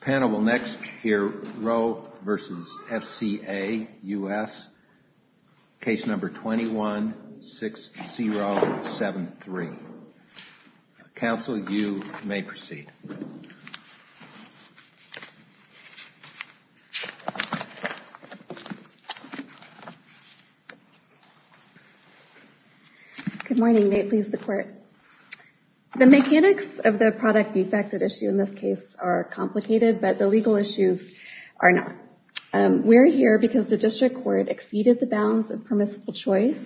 Panel will next hear Roe v. FCA U.S. Case No. 21-6073. Counsel, you may proceed. Good morning. Nate Lees, the court. The mechanics of the product defect at issue in this case are complicated, but the legal issues are not. We're here because the district court exceeded the bounds of permissible choice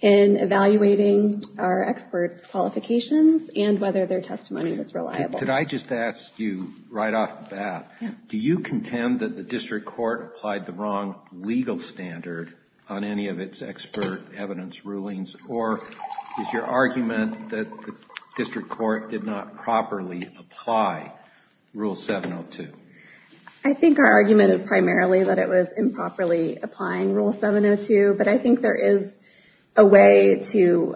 in evaluating our experts' qualifications and whether their testimony was reliable. Could I just ask you, right off the bat, do you contend that the district court applied the wrong legal standard on any of its expert evidence rulings, or is your argument that the district court did not properly apply Rule 702? I think our argument is primarily that it was improperly applying Rule 702, but I think there is a way to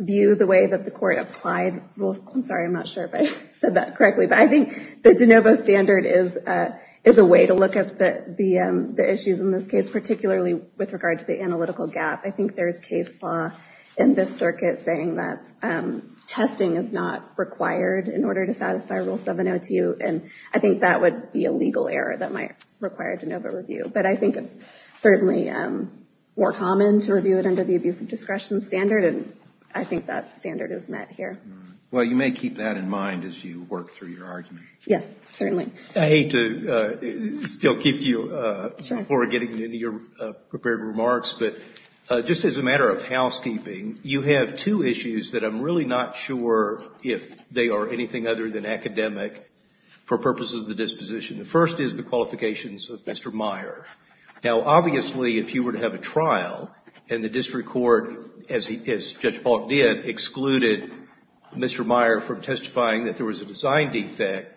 view the way that the court applied Rule 702. I'm sorry, I'm not sure if I said that correctly, but I think the de novo standard is a way to look at the issues in this case, particularly with regard to the analytical gap. I think there's case law in this circuit saying that testing is not required in order to satisfy Rule 702, and I think that would be a legal error that might require de novo review. But I think it's certainly more common to review it under the abuse of discretion standard, and I think that standard is met here. Well, you may keep that in mind as you work through your argument. Yes, certainly. I hate to still keep you before getting into your prepared remarks, but just as a matter of housekeeping, you have two issues that I'm really not sure if they are anything other than academic for purposes of the disposition. The first is the qualifications of Mr. Meyer. Now, obviously, if you were to have a trial and the district court, as Judge Polk did, excluded Mr. Meyer from testifying that there was a design defect,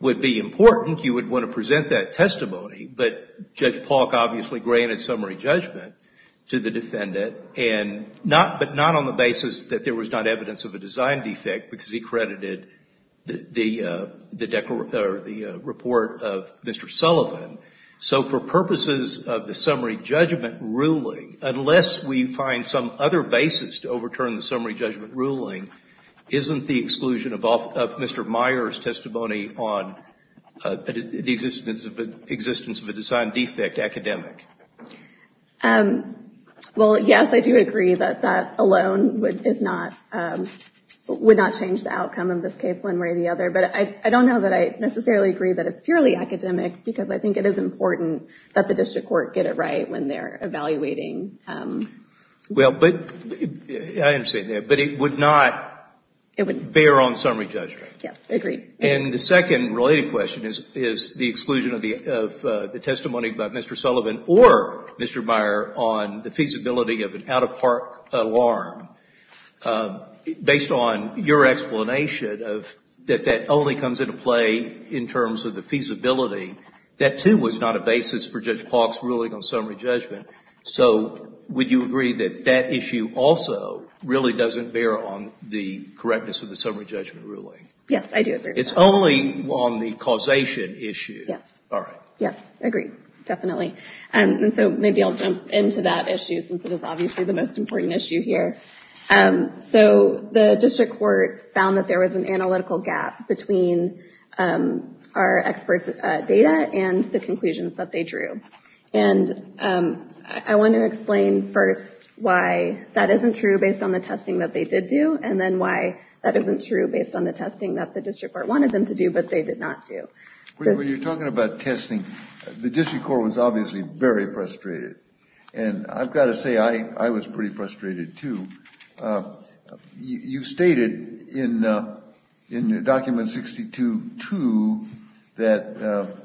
would be important. You would want to present that testimony, but Judge Polk obviously granted summary judgment to the defendant, but not on the basis that there was not evidence of a design defect because he credited the report of Mr. Sullivan. So for purposes of the summary judgment ruling, unless we find some other basis to overturn the summary judgment ruling, isn't the exclusion of Mr. Meyer's testimony on the existence of a design defect academic? Well, yes, I do agree that that alone would not change the outcome of this case one way or the other, but I don't know that I necessarily agree that it's purely academic because I think it is important that the district court get it right when they're evaluating. Well, I understand that, but it would not bear on summary judgment. Yes, I agree. And the second related question is the exclusion of the testimony by Mr. Sullivan or Mr. Meyer on the feasibility of an out-of-park alarm. Based on your explanation of that that only comes into play in terms of the feasibility, that too was not a basis for Judge Polk's ruling on summary judgment. So would you agree that that issue also really doesn't bear on the correctness of the summary judgment ruling? Yes, I do agree. It's only on the causation issue. Yes. All right. Yes, I agree. Definitely. And so maybe I'll jump into that issue since it is obviously the most important issue here. So the district court found that there was an analytical gap between our experts' data and the conclusions that they drew. And I want to explain first why that isn't true based on the testing that they did do and then why that isn't true based on the testing that the district court wanted them to do but they did not do. When you're talking about testing, the district court was obviously very frustrated. And I've got to say I was pretty frustrated too. You stated in document 62-2 that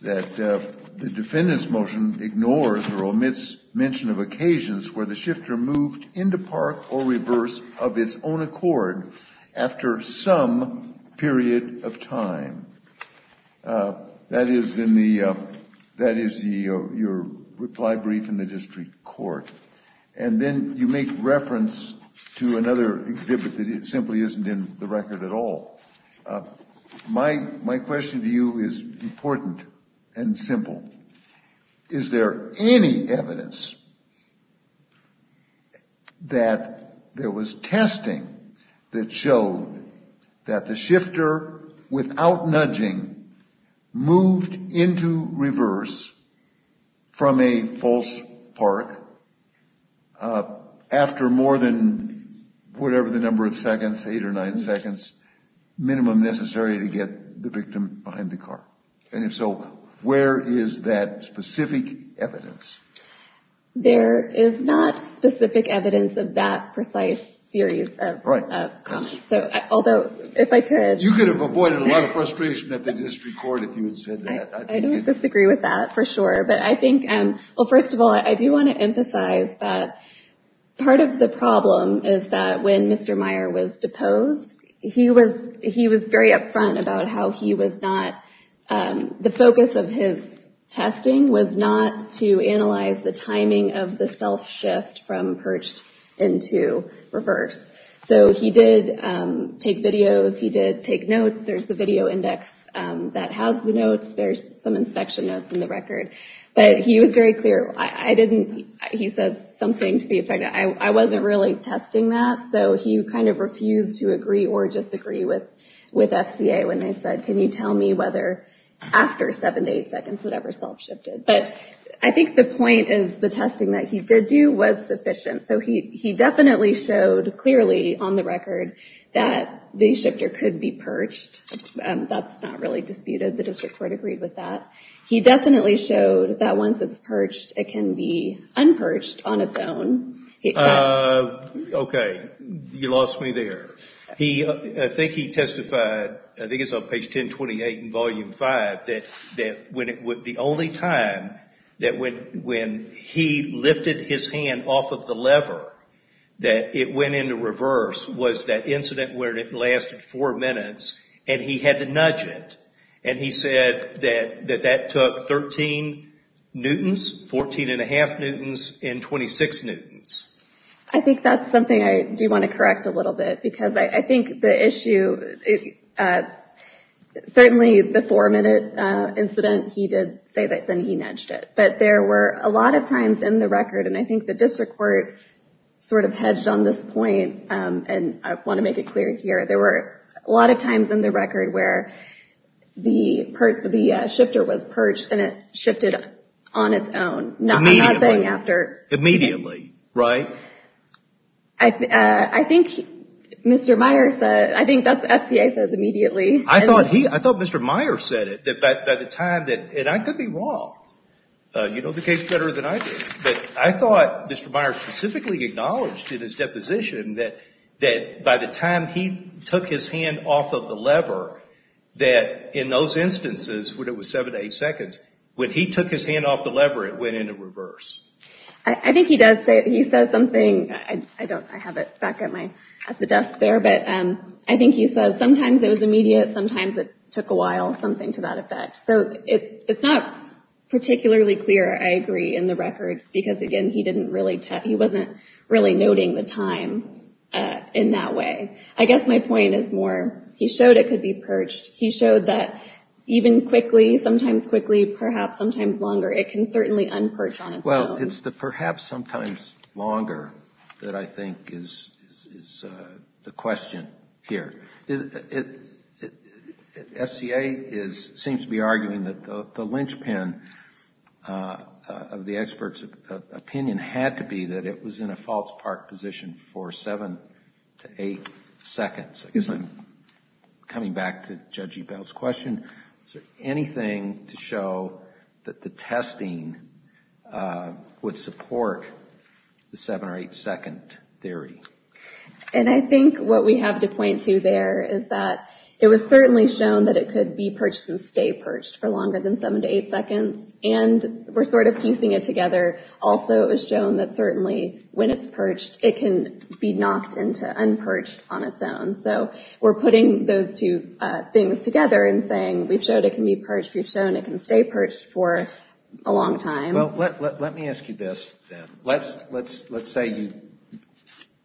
the defendant's motion ignores or omits mention of occasions where the shifter moved into park or reverse of its own accord after some period of time. That is your reply brief in the district court. And then you make reference to another exhibit that simply isn't in the record at all. My there was testing that showed that the shifter without nudging moved into reverse from a false park after more than whatever the number of seconds, eight or nine seconds, minimum necessary to get the victim behind the car. And if so, where is that specific evidence? There is not specific evidence of that precise series of comments. Although, if I could... You could have avoided a lot of frustration at the district court if you had said that. I don't disagree with that for sure. But I think, well, first of all, I do want to emphasize that part of the problem is that when Mr. Meyer was deposed, he was very upfront about how he was not... The focus of his testing was not to analyze the timing of the self-shift from perched into reverse. So he did take videos. He did take notes. There's the video index that has the notes. There's some inspection notes in the record. But he was very clear. I didn't... He says something to the effect that I wasn't really testing that. So he kind of refused to agree or disagree with FCA when they said, can you tell me whether after seven to eight seconds, whatever self-shifted. But I think the point is the testing that he did do was sufficient. So he definitely showed clearly on the record that the shifter could be perched. That's not really disputed. The district court agreed with that. He definitely showed that once it's perched, it can be unperched on its own. Okay. You lost me there. I think he testified, I think it's on page 1028 in volume five, that the only time that when he lifted his hand off of the lever, that it went into reverse was that incident where it lasted four minutes and he had to nudge it. And he said that that took 13 newtons, 14 and a half newtons, and 26 newtons. I think that's something I do want to correct a little bit because I think the issue, certainly the four minute incident, he did say that then he nudged it. But there were a lot of times in the record, and I think the district court sort of hedged on this point, and I want to make it clear here, there were a lot of times in the record where the shifter was perched and it shifted on its own. Immediately, right? I think Mr. Meyer said, I think that's what the FCA says immediately. I thought Mr. Meyer said it, that by the time that, and I could be wrong. You know the case better than I do. But I thought Mr. Meyer specifically acknowledged in his deposition that by the time he took his hand off of the lever, that in those instances when it was seven to eight seconds, when he took his hand off the lever it went into reverse. I think he does say, he says something, I don't, I have it back at my, at the desk there, but I think he says sometimes it was immediate, sometimes it took a while, something to that effect. So it's not particularly clear, I agree, in the record because again he didn't really, he wasn't really noting the time in that way. I guess my point is more, he showed it could be perched. He showed that even quickly, sometimes quickly, perhaps sometimes longer, it can certainly unperch on its own. Well, it's the perhaps sometimes longer that I think is the question here. FCA is, seems to be arguing that the linchpin of the expert's opinion had to be that it was in a false park position for seven to eight seconds. Coming back to Judge Ebell's question, is there anything to show that the testing would support the seven or eight second theory? And I think what we have to point to there is that it was certainly shown that it could be perched and stay perched for longer than seven to eight seconds and we're sort of piecing it together. Also it was shown that certainly when it's perched it can be knocked into unperched on its own. So we're putting those two things together and saying we've showed it can be perched, we've shown it can stay perched for a long time. Let me ask you this then. Let's say you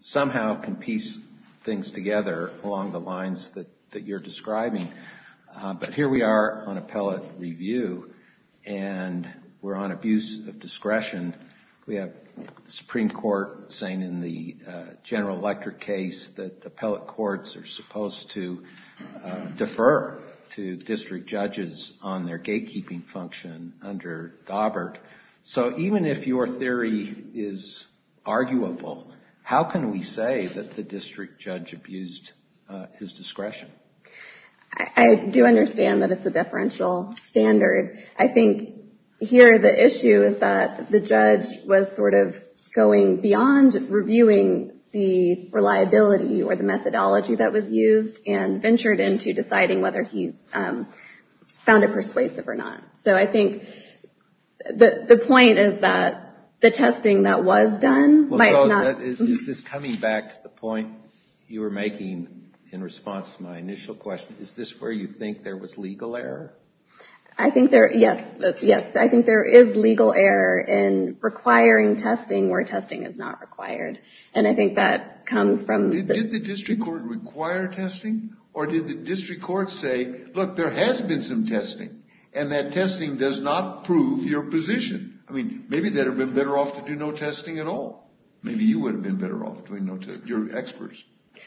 somehow can piece things together along the lines that you're describing. But here we are on appellate review and we're on abuse of discretion. We have the Supreme Court saying in the General Electric case that appellate courts are supposed to defer to district judges on their gatekeeping function under Daubert. So even if your theory is arguable, how can we say that the district judge abused his discretion? I do understand that it's a differential standard. I think here the issue is that the judge was sort of going beyond reviewing the reliability or the methodology that was used and ventured into deciding whether he found it persuasive or not. So I think the point is that the testing that was done might not... So is this coming back to the point you were making in response to my initial question? Is this where you think there was legal error? I think there is legal error in requiring testing where testing is not required. And I think that comes from... Did the district court require testing? Or did the district court say, look, there has been some testing and that testing does not prove your position? I mean, maybe they'd have been better off to do no testing at all. Maybe you would have been better off doing no testing. You're experts.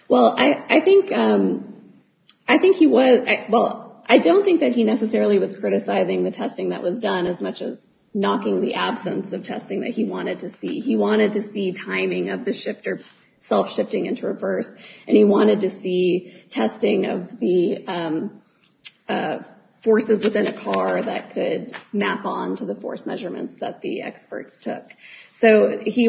Well, I think he was... Well, I don't think that he necessarily was criticizing the testing that was done as much as knocking the absence of testing that he wanted to see. He wanted to see timing of the shift or self-shifting into reverse. And he wanted to see testing of the forces within a car that could map on to the force measurements that the experts took. So he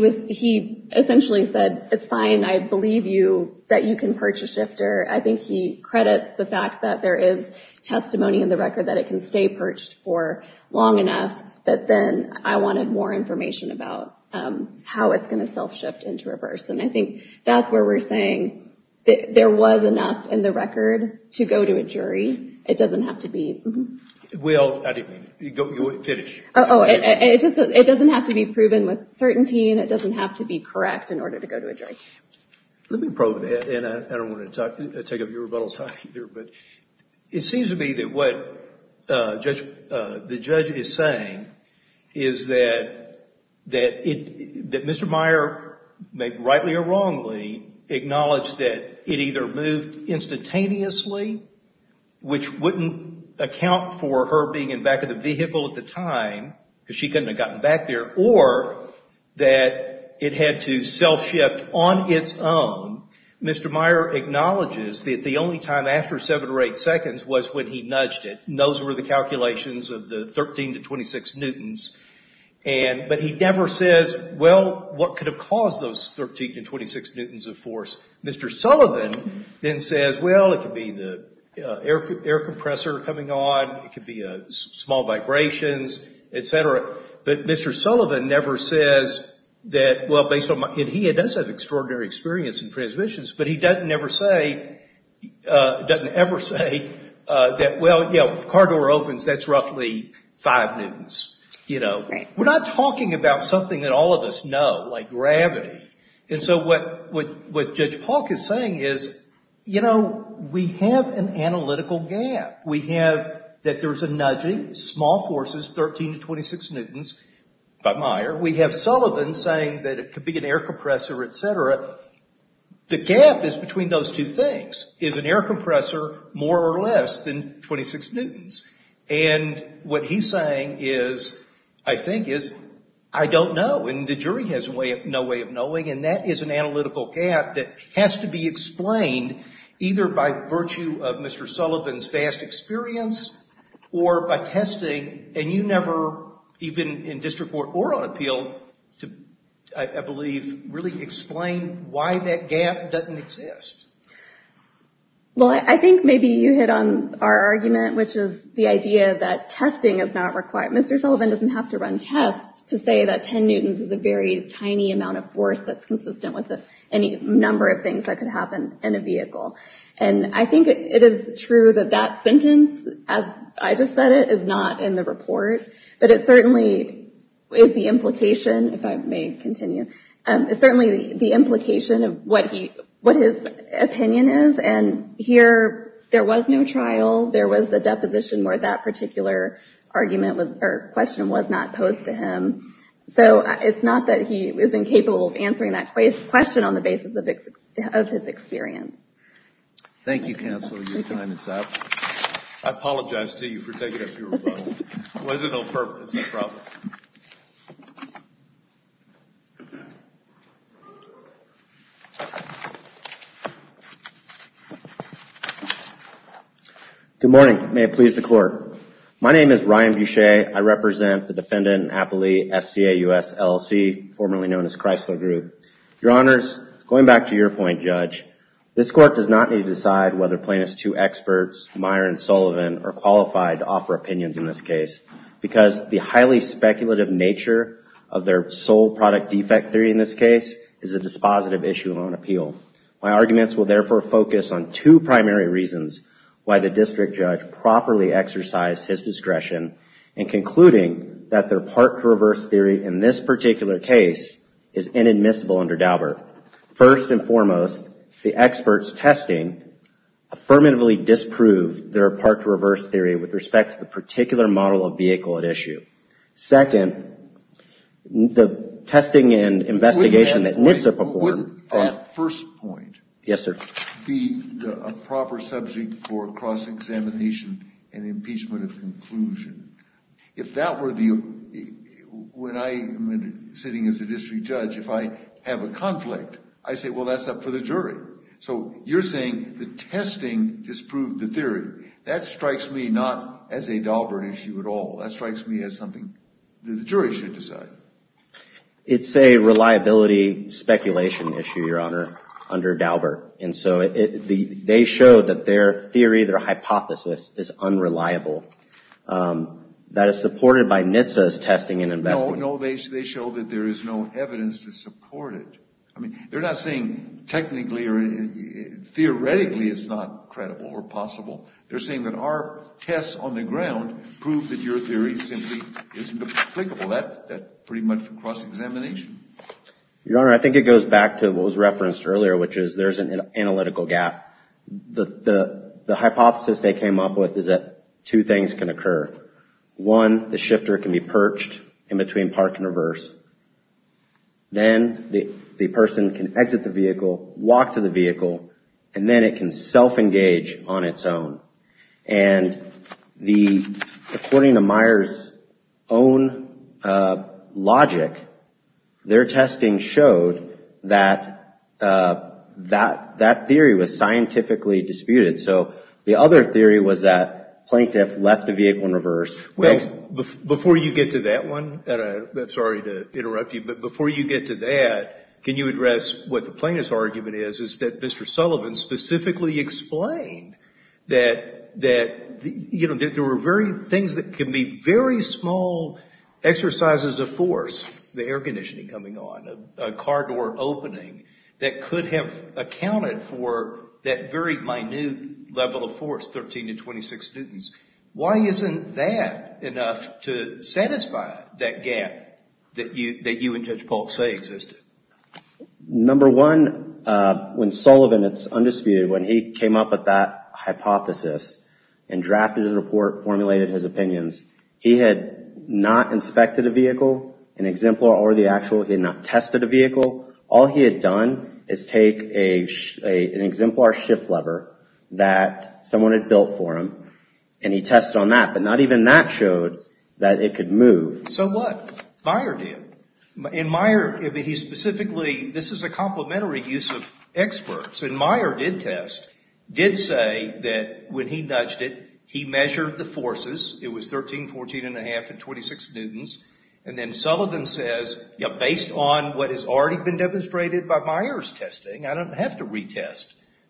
essentially said, it's fine. I believe you, that you can perch a shifter. I think he credits the fact that there is testimony in the record that it can stay perched for long enough. But then I wanted more information about how it's going to self-shift into reverse. And I think that's where we're saying that there was enough in the record to go to a jury. It doesn't have to be... Well, I didn't mean it. Finish. Oh, it doesn't have to be proven with certainty and it doesn't have to be correct in order to go to a jury. Let me probe that. And I don't want to take up your rebuttal time either, but it seems to be that what the judge is saying is that Mr. Meyer, rightly or wrongly, acknowledged that it either moved instantaneously, which wouldn't account for her being in back of the vehicle at the time because she couldn't have gotten back there, or that it had to self-shift on its own. Mr. Meyer acknowledges that the only time after seven or eight seconds was when he nudged it. And those were the calculations of the 13 to 26 newtons. But he never says, well, what could have caused those 13 to 26 newtons of force? Mr. Sullivan then says, well, it could be the air compressor coming on, it could be small vibrations, etc. But Mr. Sullivan never says that, well, based on my... But he doesn't ever say that, well, if a car door opens, that's roughly five newtons. We're not talking about something that all of us know, like gravity. And so what Judge Polk is saying is, you know, we have an analytical gap. We have that there was a nudging, small forces, 13 to 26 newtons by Meyer. We have Sullivan saying that it could be an air compressor, etc. The gap is between those two things. Is an air compressor more or less than 26 newtons? And what he's saying is, I think is, I don't know. And the jury has no way of knowing. And that is an analytical gap that has to be explained either by virtue of Mr. Sullivan's vast experience or by testing. And you never, even in district court or on appeal, to, I believe, really explain why that gap doesn't exist. Well, I think maybe you hit on our argument, which is the idea that testing is not required. Mr. Sullivan doesn't have to run tests to say that 10 newtons is a very tiny amount of force that's consistent with any number of things that could happen in a vehicle. And I think it is true that that sentence, as I just said it, is not in the report. But it certainly is the implication, if I may continue, it's certainly the implication of what his opinion is. And here, there was no trial. There was the deposition where that particular argument or question was not posed to him. So it's not that he is incapable of answering that question on the basis of his experience. Thank you, counsel. Your time is up. I apologize to you for taking up your rebuttal. It wasn't on purpose, I promise. Good morning. May it please the court. My name is Ryan Boucher. I represent the Defendant Appellee FCA U.S. LLC, formerly known as Chrysler Group. Your Honors, going back to your point, Judge, this court does not need to decide whether plaintiff's two experts, Meyer and Daubert, of their sole product defect theory in this case is a dispositive issue of own appeal. My arguments will therefore focus on two primary reasons why the district judge properly exercised his discretion in concluding that their part to reverse theory in this particular case is inadmissible under Daubert. First and foremost, the experts testing affirmatively disproved their part to reverse theory with respect to the particular model of vehicle at issue. Second, the testing and investigation that NHTSA performed... Wait a minute. Wouldn't that first point be a proper subject for cross-examination and impeachment of conclusion? If that were the... When I am sitting as a district judge, if I have a conflict, I say, well, that's up for the jury. So you're saying the testing disproved the conclusion is not as a Daubert issue at all. That strikes me as something that the jury should decide. It's a reliability speculation issue, Your Honor, under Daubert. And so they show that their theory, their hypothesis is unreliable. That is supported by NHTSA's testing and investigation. No, no, they show that there is no evidence to support it. I mean, they're not saying technically or theoretically it's not credible or possible. They're saying that our tests on the ground prove that your theory simply isn't applicable. That's pretty much for cross-examination. Your Honor, I think it goes back to what was referenced earlier, which is there's an analytical gap. The hypothesis they came up with is that two things can occur. One, the shifter can be perched in between park and reverse. Then the person can exit the vehicle, walk to the next page on its own. And according to Meyer's own logic, their testing showed that that theory was scientifically disputed. So the other theory was that plaintiff left the vehicle in reverse. Well, before you get to that one, sorry to interrupt you, but before you get to that, can you explain that there were things that can be very small exercises of force, the air conditioning coming on, a car door opening, that could have accounted for that very minute level of force, 13 to 26 newtons. Why isn't that enough to satisfy that gap that you and Judge Polk say existed? Number one, when Sullivan, it's undisputed, when he came up with that hypothesis and drafted his report, formulated his opinions, he had not inspected a vehicle, an exemplar or the actual, he had not tested a vehicle. All he had done is take an exemplar shift lever that someone had built for him, and he tested on that. But not even that showed that it could move. So what? Meyer did. And Meyer, he specifically, this is a complementary use of experts. And Meyer did test, did say that when he nudged it, he measured the forces. It was 13, 14 and a half, and 26 newtons. And then Sullivan says, based on what has already been demonstrated by Meyer's testing, I don't have to retest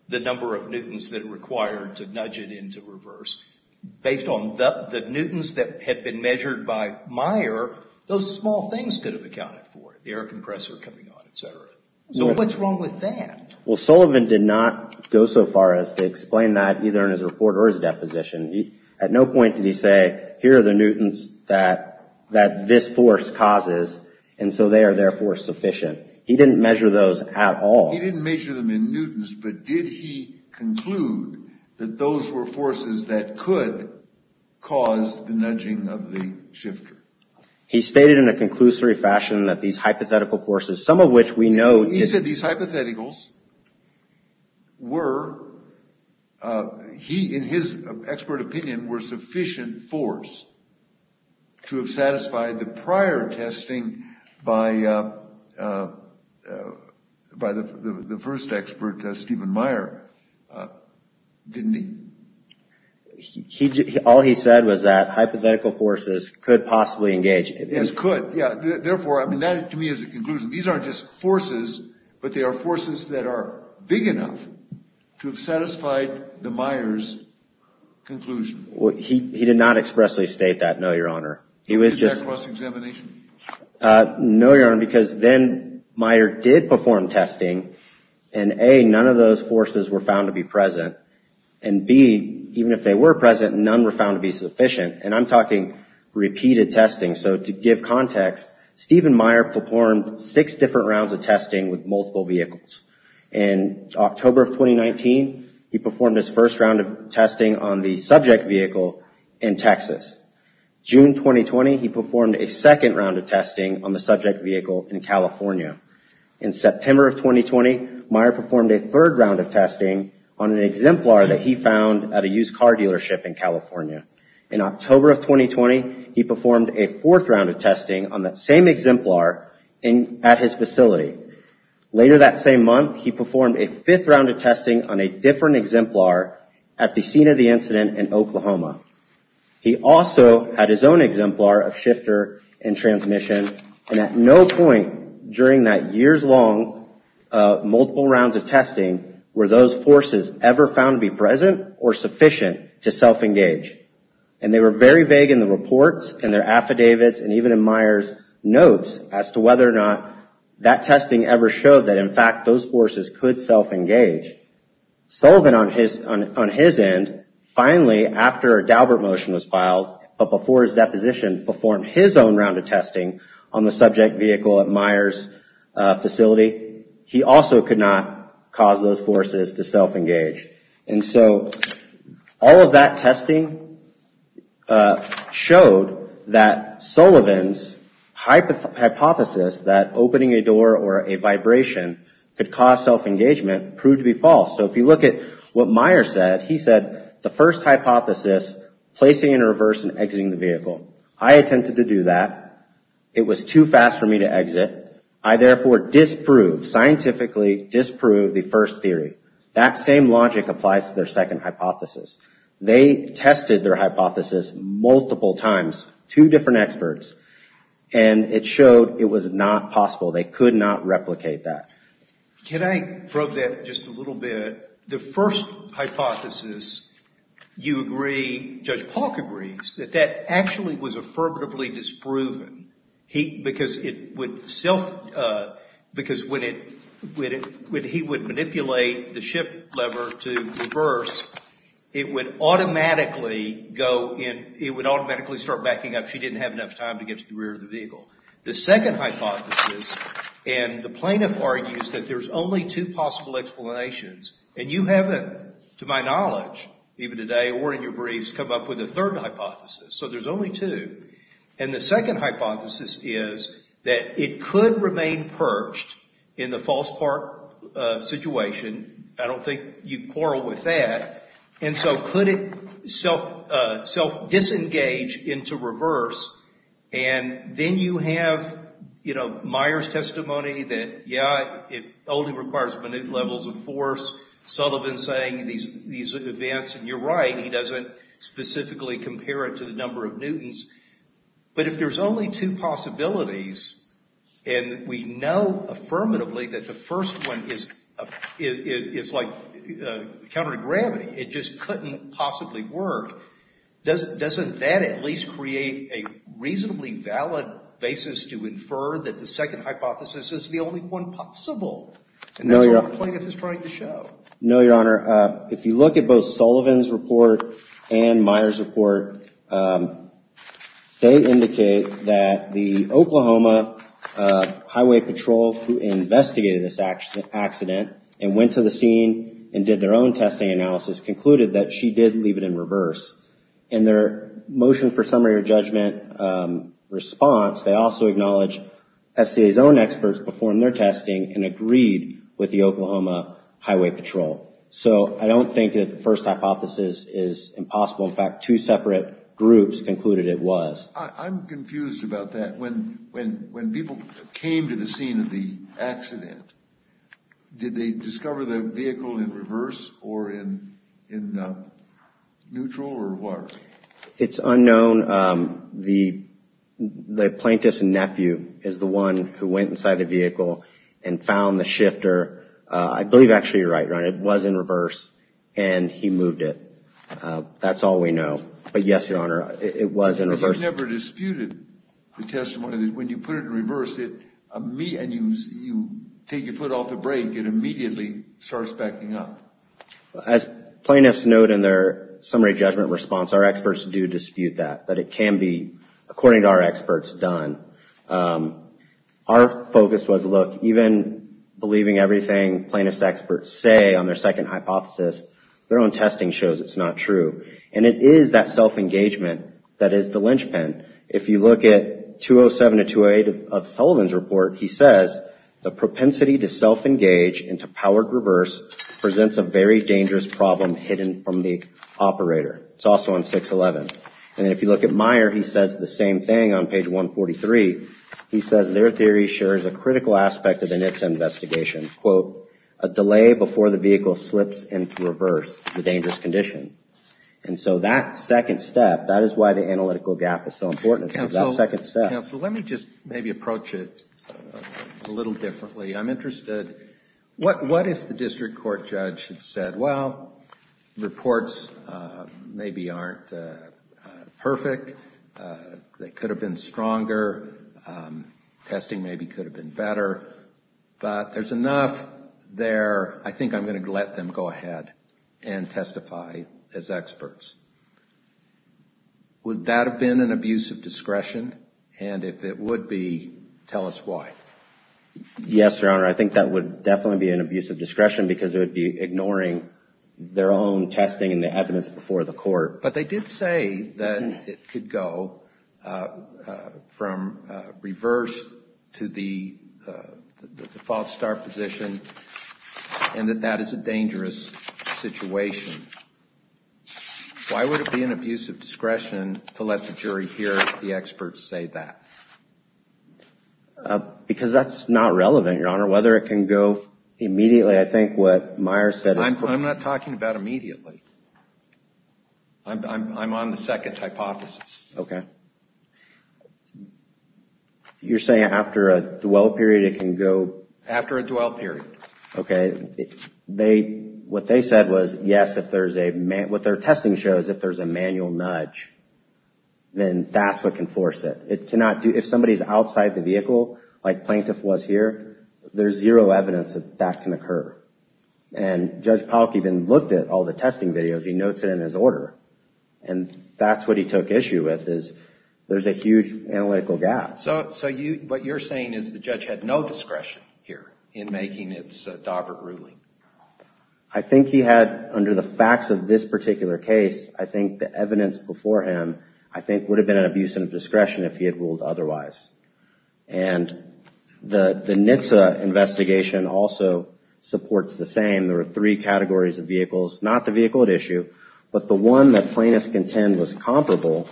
the number of newtons that are reversed. Based on the newtons that had been measured by Meyer, those small things could have accounted for it. The air compressor coming on, etc. So what's wrong with that? Well, Sullivan did not go so far as to explain that either in his report or his deposition. At no point did he say, here are the newtons that this force causes, and so they are therefore sufficient. He didn't measure those at all. He didn't measure them in newtons, but did he cause the nudging of the shifter. He stated in a conclusory fashion that these hypothetical forces, some of which we know... He said these hypotheticals were, he, in his expert opinion, were sufficient force to have satisfied the prior testing by the first expert, Stephen Meyer, didn't he? All he said was that hypothetical forces could possibly engage. Yes, could. Yeah. Therefore, I mean, that to me is a conclusion. These aren't just forces, but they are forces that are big enough to have satisfied the Meyer's conclusion. He did not expressly state that, no, Your Honor. He was just... No, Your Honor, because then Meyer did perform testing, and A, none of those forces were found to be present, and B, even if they were present, none were found to be sufficient, and I'm talking repeated testing. So to give context, Stephen Meyer performed six different rounds of testing on the subject vehicle in California. In September of 2020, Meyer performed a third round of testing on an exemplar that he found at a used car dealership in California. In October of 2020, he performed a fourth round of testing on that same exemplar at his facility. Later that same month, he reported the incident in Oklahoma. He also had his own exemplar of shifter and transmission, and at no point during that years-long multiple rounds of testing were those forces ever found to be present or sufficient to self-engage, and they were very vague in the reports and their affidavits and even Meyer's notes as to whether or not that testing ever showed that, in fact, those forces could self-engage. Sullivan, on his end, finally, after a Daubert motion was filed, but before his deposition, performed his own round of testing on the subject vehicle at Meyer's facility, he also could not cause those forces to self-engage. And so all of that testing showed that Sullivan's hypothesis that opening a door or a vibration could cause self-engagement proved to be false. So if you look at what Meyer said, he said, the first hypothesis, placing in reverse and exiting the vehicle. I That same logic applies to their second hypothesis. They tested their hypothesis multiple times, two different experts, and it showed it was not possible. They could not replicate that. Can I probe that just a little bit? The first hypothesis, you agree, Judge Polk agrees, that that actually was affirmatively disproven, because it would self, because when it, when he would manipulate the shift lever to reverse, it would automatically go in, it would automatically start backing up. She didn't have enough time to get to the rear of the vehicle. The second hypothesis, and the plaintiff argues that there's only two possible explanations, and you haven't, to my knowledge, even today or in your briefs, come up with a third hypothesis. So there's only two. And the second hypothesis is that it could remain perched in the And then you have, you know, Meyer's testimony that, yeah, it only requires minute levels of force. Sullivan's saying these events, and you're right, he doesn't specifically compare it to the number of newtons. But if there's only two possibilities, and we know affirmatively that the first one is like counter gravity, it just valid basis to infer that the second hypothesis is the only one possible. And that's what the plaintiff is trying to show. No, Your Honor. If you look at both Sullivan's report and Meyer's report, they indicate that the Oklahoma Highway Patrol, who investigated this accident, and went to the summary or judgment response, they also acknowledge SCA's own experts performed their testing and agreed with the Oklahoma Highway Patrol. So I don't think that the first hypothesis is impossible. In fact, two separate groups concluded it was. I'm confused about that. When people came to the scene of the accident, did they discover the vehicle in reverse or in neutral, or what? It's unknown. The plaintiff's nephew is the one who went inside the vehicle and found the shifter. I believe, actually, you're right, Ron, it was in reverse, and he moved it. That's all we know. But yes, Your Honor, it was in reverse. But you've never disputed the testimony that when you put it in reverse, and you take your foot off the brake, it immediately starts backing up. As plaintiffs note in their summary judgment response, our experts do dispute that, that it can be, according to our experts, done. Our focus was, look, even believing everything plaintiff's experts say on their second hypothesis, their own testing shows it's not true. And it is that self-engagement that is the linchpin. If you look at 207 to 208 of Sullivan's report, he says, the propensity to self-engage and to power to reverse presents a very dangerous problem hidden from the operator. It's also on 611. And if you look at Meyer, he says the same thing on page 143. He says their theory shares a critical aspect of the NHTSA investigation. Quote, a delay before the vehicle slips into reverse is a dangerous condition. And so that second step, that is why the analytical gap is so important, is that second step. Counsel, let me just maybe approach it a little differently. I'm interested, what if the district court judge had said, well, reports maybe aren't perfect. They could have been stronger. Testing maybe could have been better. But there's enough there. I think I'm going to let them go ahead and testify as experts. Would that have been an abuse of discretion? And if it would be, tell us why. Yes, Your Honor, I think that would definitely be an abuse of discretion because it would be ignoring their own testing and the evidence before the court. But they did say that it could go from reverse to the false start position and that that is a dangerous situation. Why would it be an abuse of discretion to let the jury hear the experts say that? Because that's not relevant, Your Honor, whether it can go immediately. I'm not talking about immediately. I'm on the second hypothesis. Okay. You're saying after a dwell period it can go? After a dwell period. Okay. What they said was, yes, what their testing shows, if there's a manual nudge, then that's what can force it. If somebody's outside the vehicle, like Plaintiff was here, there's zero evidence that that can occur. And Judge Polk even looked at all the testing videos. He notes it in his order. And that's what he took issue with is there's a huge analytical gap. So what you're saying is the judge had no discretion here in making its Daubert ruling? I think he had, under the facts of this particular case, I think the evidence before him, I think would have been an abuse of discretion if he had ruled otherwise. And the NHTSA investigation also supports the same. There were three categories of vehicles, not the vehicle at issue, but the one that Plaintiff contends was comparable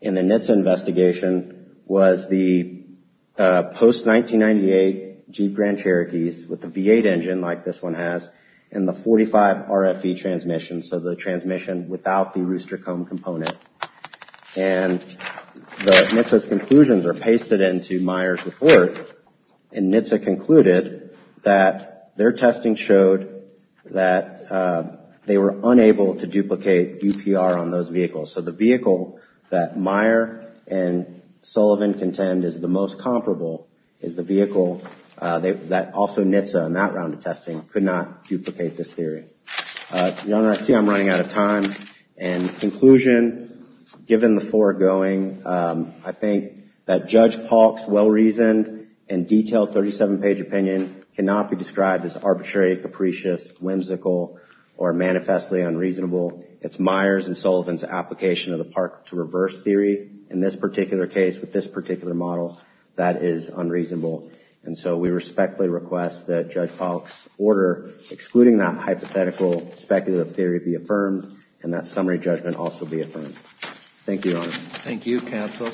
in the NHTSA investigation was the post-1998 Jeep Grand Cherokees with the V8 engine, like this one has, and the 45RFE transmission, so the transmission without the rooster comb component. And the NHTSA's conclusions are pasted into Meyer's report. And NHTSA concluded that their testing showed that they were unable to duplicate UPR on those vehicles. So the vehicle that Meyer and Sullivan contend is the most comparable is the vehicle that also NHTSA, in that round of testing, could not duplicate this theory. Your Honor, I see I'm running out of time. In conclusion, given the foregoing, I think that Judge Paulk's well-reasoned and detailed 37-page opinion cannot be described as arbitrary, capricious, whimsical, or manifestly unreasonable. It's Meyer's and Sullivan's application of the park-to-reverse theory in this particular case with this particular model that is unreasonable. And so we respectfully request that Judge Paulk's order excluding that hypothetical speculative theory be affirmed and that summary judgment also be affirmed. Thank you, Your Honor. Thank you, counsel.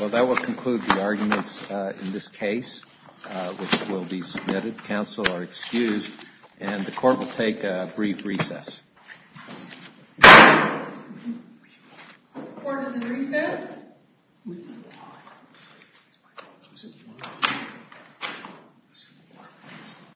Well, that will conclude the arguments in this case, which will be submitted. Counsel are excused, and the court will take a brief recess. The court is in recess.